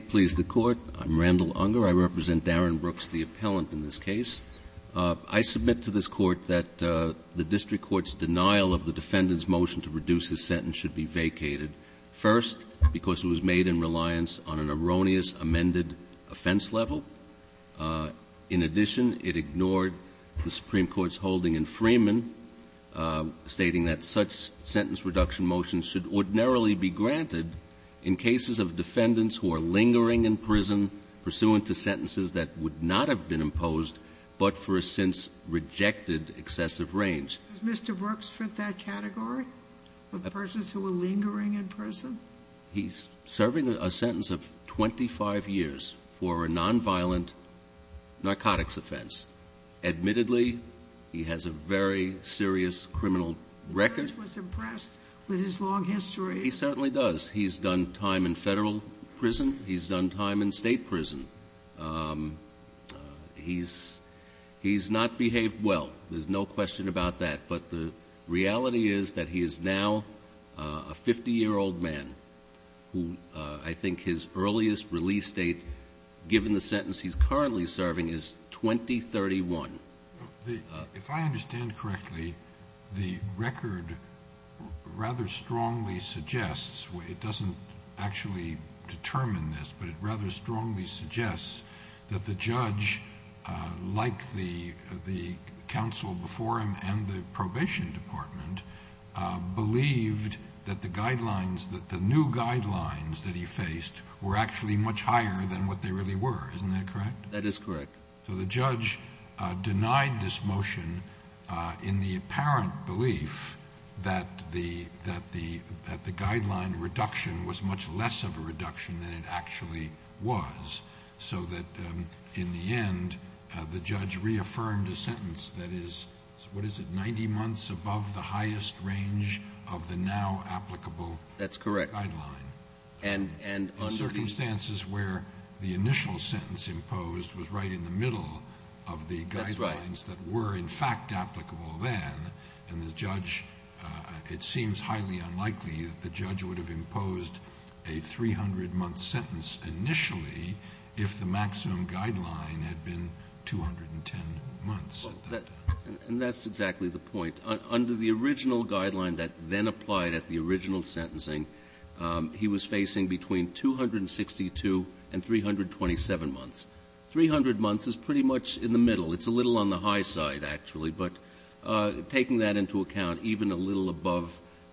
I'm Randall Unger. I represent Darren Brooks, the appellant in this case. I submit to this Court that the District Court's denial of the defendant's motion to reduce his sentence should be vacated, first, because it was made in reliance on an erroneous amended offense level. In addition, it ignored the Supreme Court's holding in Freeman, stating that such an offense would not have been imposed but for a since-rejected excessive range. Does Mr. Brooks fit that category of persons who were lingering in prison? He's serving a sentence of 25 years for a nonviolent narcotics offense. Admittedly, he has a very serious criminal record. The judge was impressed with his long history. He certainly does. He's done time in federal prison. He's done time in state prison. He's not behaved well. There's no question about that. But the reality is that he is now a 50-year-old man who I think his earliest release date, given the sentence he's currently serving, is 2031. If I understand correctly, the record rather strongly suggests, it doesn't actually determine this, but it rather strongly suggests that the judge, like the counsel before him and the probation department, believed that the guidelines, that the new guidelines that he faced were actually much higher than what they really were. Isn't that correct? That is correct. So the judge denied this motion in the apparent belief that the guideline reduction was much less of a reduction than it actually was, so that in the end the judge reaffirmed a sentence that is, what is it, 90 months above the highest range of the now applicable guideline. That's correct. In circumstances where the initial sentence imposed was right in the middle of the guidelines that were in fact applicable then, and the judge, it seems highly unlikely that the judge would have imposed a 300-month sentence initially if the maximum guideline had been 210 months at that time. And that's exactly the point. Under the original guideline that then applied at the original sentencing, he was facing between 262 and 327 months. 300 months is pretty much in the middle. It's a little on the high side, actually, but taking that into account, even a little above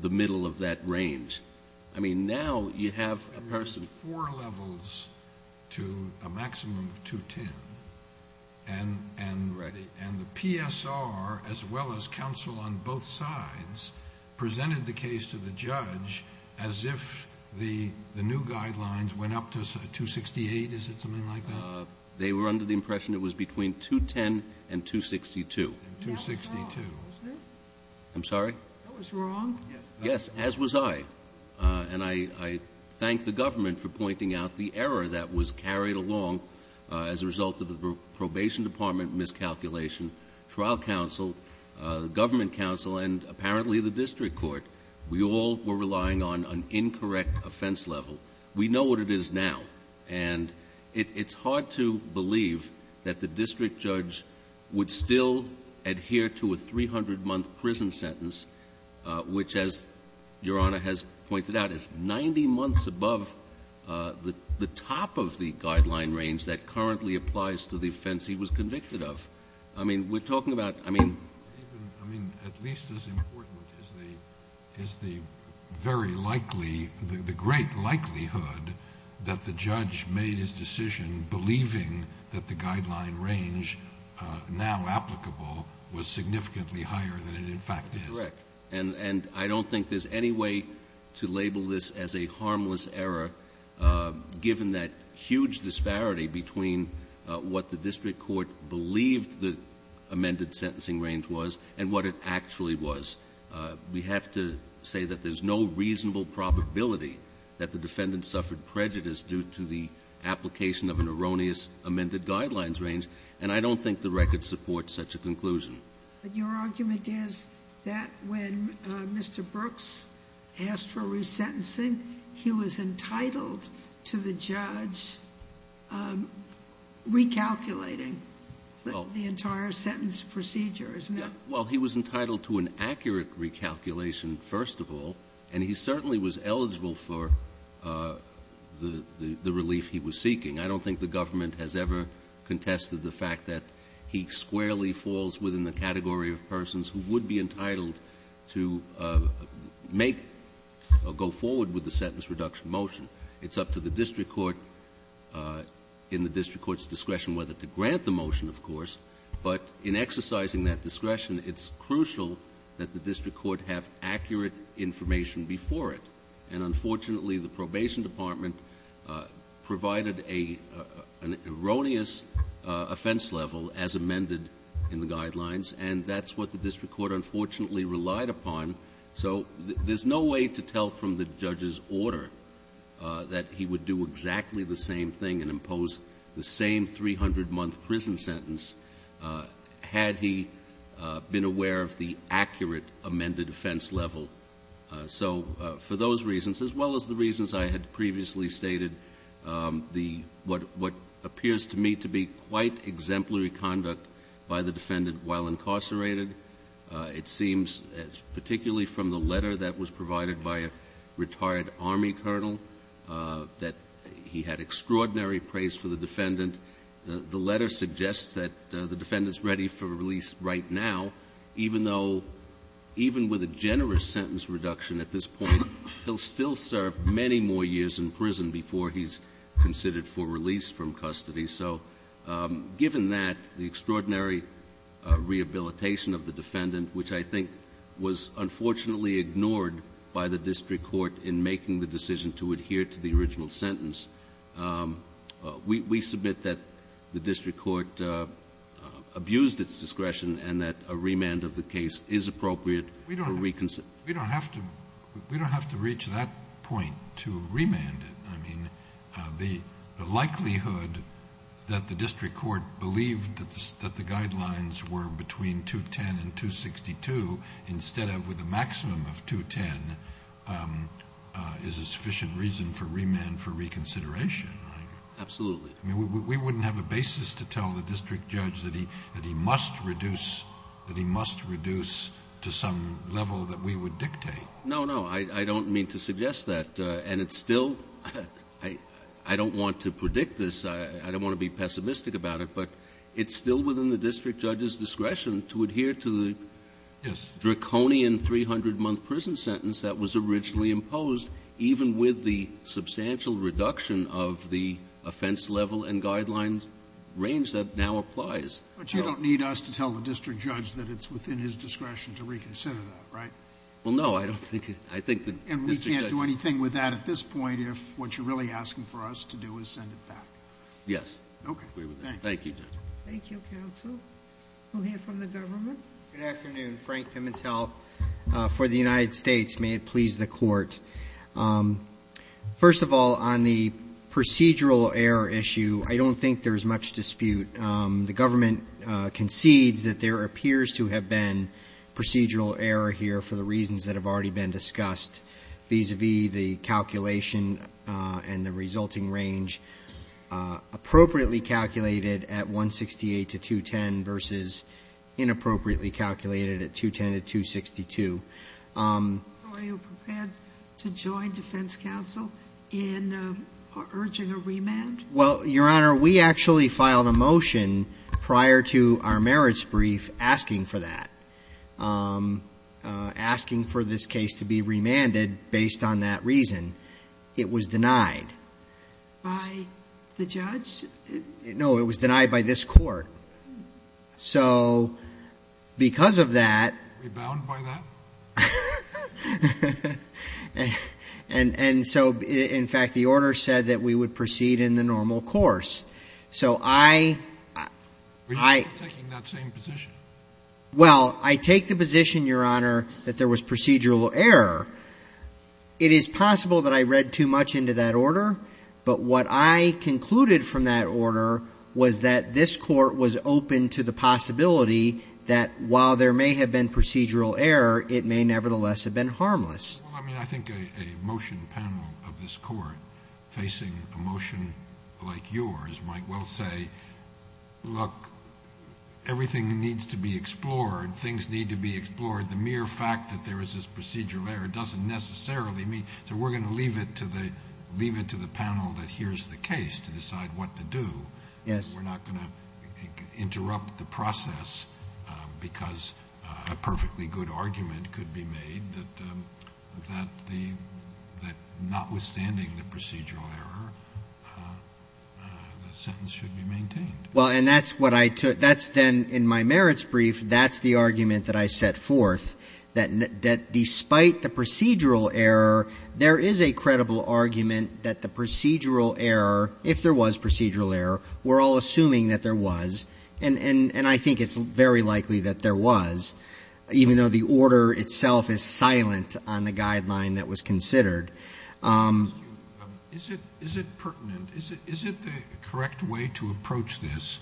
the middle of that range. I mean, now you have a person. to a maximum of 210, and the PSR, as well as counsel on both sides, presented the case to the judge as if the new guidelines went up to 268. Is it something like that? They were under the impression it was between 210 and 262. 262. I'm sorry? That was wrong. Yes, as was I. And I thank the government for pointing out the error that was carried along as a result of the probation department miscalculation, trial counsel, government counsel, and apparently the district court. We all were relying on an incorrect offense level. We know what it is now, and it's hard to believe that the district judge would still adhere to a 300-month prison sentence, which, as Your Honor has pointed out, is 90 months above the top of the guideline range that currently applies to the offense he was convicted of. I mean, we're talking about, I mean. I mean, at least as important is the very likely, the great likelihood that the judge made his decision believing that the guideline range now applicable was significantly higher than it in fact is. That's correct. And I don't think there's any way to label this as a harmless error, given that huge disparity between what the district court believed the amended sentencing range was and what it actually was. We have to say that there's no reasonable probability that the defendant suffered prejudice due to the application of an erroneous amended guidelines range, and I don't think the record supports such a conclusion. But your argument is that when Mr. Brooks asked for resentencing, he was entitled to the judge recalculating the entire sentence procedure, isn't it? Well, he was entitled to an accurate recalculation, first of all, and he certainly was eligible for the relief he was seeking. I don't think the government has ever contested the fact that he squarely falls within the category of persons who would be entitled to make or go forward with the sentence reduction motion. It's up to the district court in the district court's discretion whether to grant the motion, of course. But in exercising that discretion, it's crucial that the district court have accurate information before it. And unfortunately, the probation department provided an erroneous offense level as amended in the guidelines, and that's what the district court unfortunately relied upon. So there's no way to tell from the judge's order that he would do exactly the same thing and impose the same 300-month prison sentence had he been aware of the accurate amended offense level. So for those reasons, as well as the reasons I had previously stated, what appears to me to be quite exemplary conduct by the defendant while incarcerated, it seems particularly from the letter that was provided by a retired Army colonel, that he had extraordinary praise for the defendant, the letter suggests that the defendant's ready for release right now, even though, even with a generous sentence reduction at this point, he'll still serve many more years in prison before he's considered for release from custody. So given that, the extraordinary rehabilitation of the defendant, which I think was unfortunately ignored by the district court in making the decision to adhere to the original sentence, we submit that the district court abused its discretion and that a remand of the case is appropriate for reconsideration. We don't have to reach that point to remand it. I mean, the likelihood that the district court believed that the guidelines were between 210 and 262 instead of with a maximum of 210 is a sufficient reason for remand for reconsideration. Absolutely. I mean, we wouldn't have a basis to tell the district judge that he must reduce to some level that we would dictate. No, no, I don't mean to suggest that, and it's still, I don't want to predict this, I don't want to be pessimistic about it, but it's still within the district judge's discretion to adhere to the draconian 300-month prison sentence that was originally imposed, even with the substantial reduction of the offense level and guidelines range that now applies. But you don't need us to tell the district judge that it's within his discretion to reconsider that, right? Well, no, I don't think it, I think the district judge... Yes. Okay. Thank you, Judge. Thank you, counsel. We'll hear from the government. Good afternoon. Frank Pimentel for the United States. May it please the court. First of all, on the procedural error issue, I don't think there's much dispute. The government concedes that there appears to have been procedural error here for the reasons that have already been discussed, vis-à-vis the calculation and the resulting range, appropriately calculated at 168 to 210 versus inappropriately calculated at 210 to 262. Are you prepared to join defense counsel in urging a remand? Well, Your Honor, we actually filed a motion prior to our merits brief asking for that, asking for this case to be remanded based on that reason. It was denied. By the judge? No, it was denied by this court. So because of that... Rebound by that? And so, in fact, the order said that we would proceed in the normal course. So I... We're not taking that same position. Well, I take the position, Your Honor, that there was procedural error. It is possible that I read too much into that order, but what I concluded from that order was that this court was open to the possibility that while there may have been procedural error, it may nevertheless have been harmless. Well, I mean, I think a motion panel of this court facing a motion like yours might well say, look, everything needs to be explored, things need to be explored. The mere fact that there is this procedural error doesn't necessarily mean... So we're going to leave it to the panel that hears the case to decide what to do. Yes. We're not going to interrupt the process because a perfectly good argument could be made that notwithstanding the procedural error, the sentence should be maintained. Well, and that's what I took. That's then in my merits brief. That's the argument that I set forth, that despite the procedural error, there is a credible argument that the procedural error, if there was procedural error, we're all assuming that there was. And I think it's very likely that there was, even though the order itself is silent on the guideline that was considered. Is it pertinent? Is it the correct way to approach this,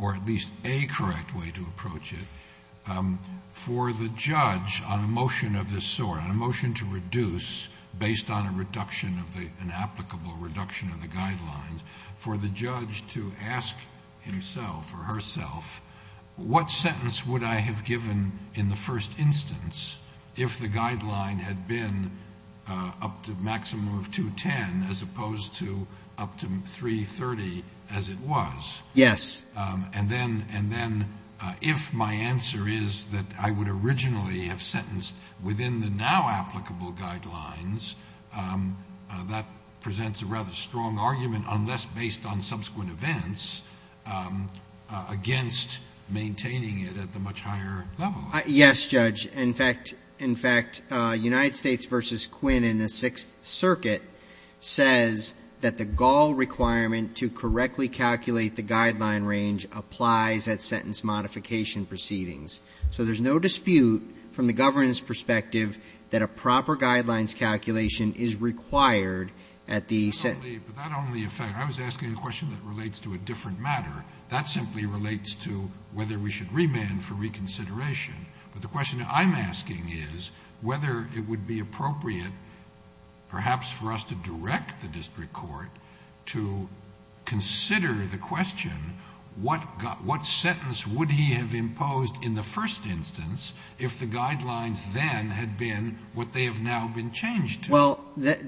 or at least a correct way to approach it, for the judge on a motion of this sort, on a motion to reduce based on a reduction of the, an applicable reduction of the guidelines, for the judge to ask himself or herself, what sentence would I have given in the first instance if the guideline had been up to a maximum of 210 as opposed to up to 330 as it was? Yes. And then if my answer is that I would originally have sentenced within the now applicable guidelines, that presents a rather strong argument, unless based on subsequent events, against maintaining it at the much higher level. Yes, Judge. In fact, in fact, United States v. Quinn in the Sixth Circuit says that the Gaul requirement to correctly calculate the guideline range applies at sentence modification proceedings. So there's no dispute from the governor's perspective that a proper guidelines calculation is required at the sentence. But that only affects the question that relates to a different matter. That simply relates to whether we should remand for reconsideration. But the question I'm asking is whether it would be appropriate, perhaps, for us to direct the district court to consider the question, what sentence would he have imposed in the first instance if the guidelines then had been what they have now been changed to? Well,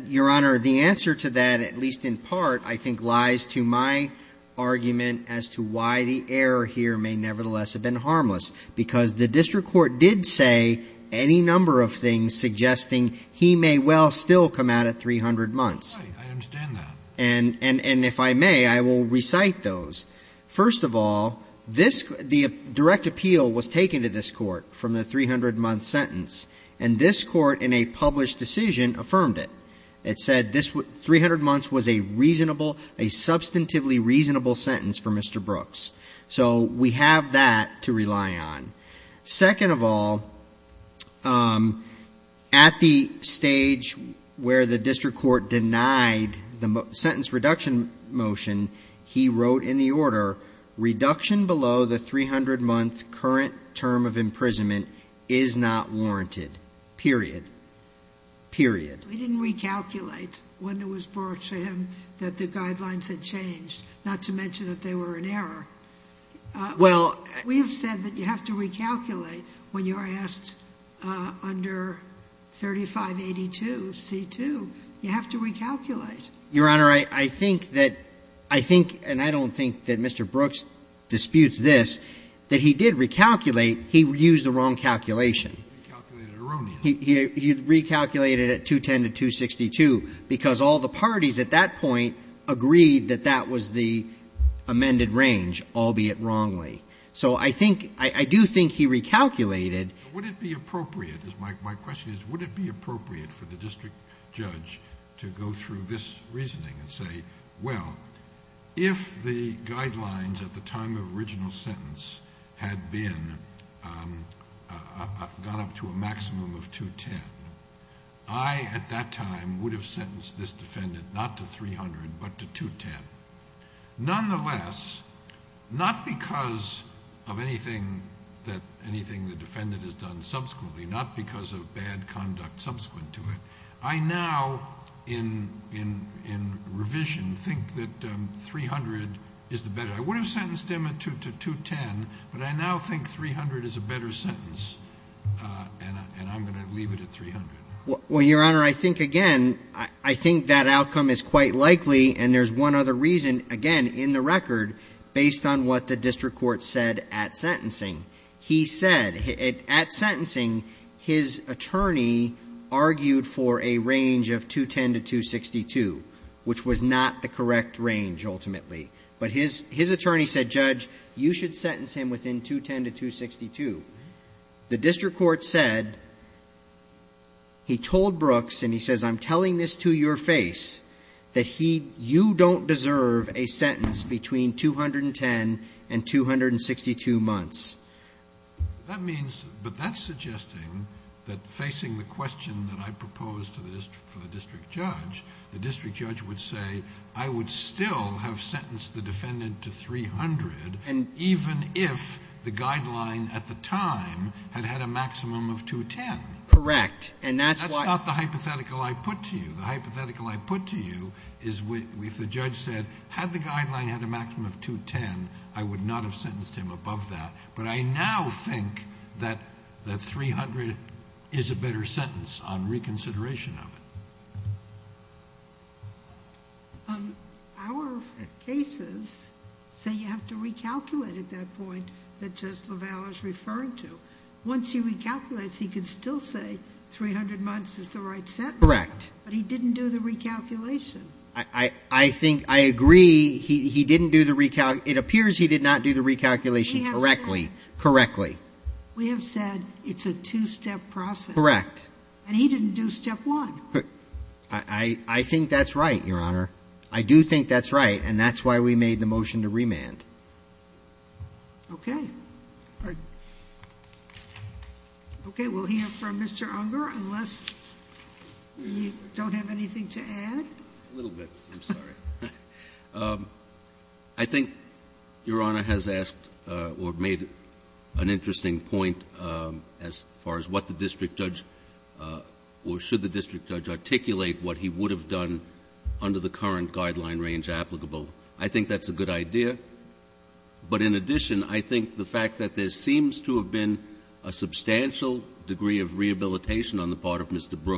Your Honor, the answer to that, at least in part, I think lies to my argument as to why the error here may nevertheless have been harmless. Because the district court did say any number of things suggesting he may well still come out at 300 months. I understand that. And if I may, I will recite those. First of all, the direct appeal was taken to this Court from the 300-month sentence. And this Court, in a published decision, affirmed it. It said 300 months was a reasonable, a substantively reasonable sentence for Mr. Brooks. So we have that to rely on. Second of all, at the stage where the district court denied the sentence reduction motion, he wrote in the order, reduction below the 300-month current term of imprisonment is not warranted, period, period. We didn't recalculate when it was brought to him that the guidelines had changed, not to mention that they were an error. Well, we have said that you have to recalculate when you are asked under 3582c2. You have to recalculate. Your Honor, I think that Mr. Brooks disputes this, that he did recalculate. He used the wrong calculation. He recalculated at 210 to 262, because all the parties at that point agreed that that was the amended range, albeit wrongly. So I think, I do think he recalculated. Would it be appropriate, my question is, would it be appropriate for the district judge to go through this reasoning and say, well, if the guidelines at the time of original sentence had been, gone up to a maximum of 210, I at that time would have sentenced this defendant not to 300, but to 210. Nonetheless, not because of anything that anything the defendant has done subsequently, not because of bad conduct subsequent to it, I now, in revision, think that 300 is the better. I would have sentenced him to 210, but I now think 300 is a better sentence, and I'm going to leave it at 300. Well, Your Honor, I think, again, I think that outcome is quite likely, and there's one other reason, again, in the record, based on what the district court said at sentencing. He said, at sentencing, his attorney argued for a range of 210 to 262, which was not the correct range, ultimately. But his attorney said, Judge, you should sentence him within 210 to 262. The district court said, he told Brooks, and he says, I'm telling this to your face, that he, you don't deserve a sentence between 210 and 262 months. That means, but that's suggesting that facing the question that I proposed to the district judge, the district judge would say, I would still have sentenced the defendant to 300, even if the guideline at the time had had a maximum of 210. Correct. And that's why... That's not the hypothetical I put to you. The hypothetical I put to you is, if the judge said, had the guideline had a maximum of 210, I would not have sentenced him above that. But I now think that 300 is a better sentence on reconsideration of it. Our cases say you have to recalculate at that point that Judge LaValle is referring to. Once he recalculates, he can still say 300 months is the right sentence. Correct. But he didn't do the recalculation. I think, I agree, he didn't do the recalculation. It appears he did not do the recalculation correctly. We have said it's a two-step process. Correct. And he didn't do step one. I think that's right, Your Honor. I do think that's right, and that's why we made the motion to remand. Okay. Okay. We'll hear from Mr. Unger unless you don't have anything to add. A little bit. I'm sorry. I think Your Honor has asked or made an interesting point as far as what the what he would have done under the current guideline range applicable. I think that's a good idea. But in addition, I think the fact that there seems to have been a substantial degree of rehabilitation on the part of Mr. Brooks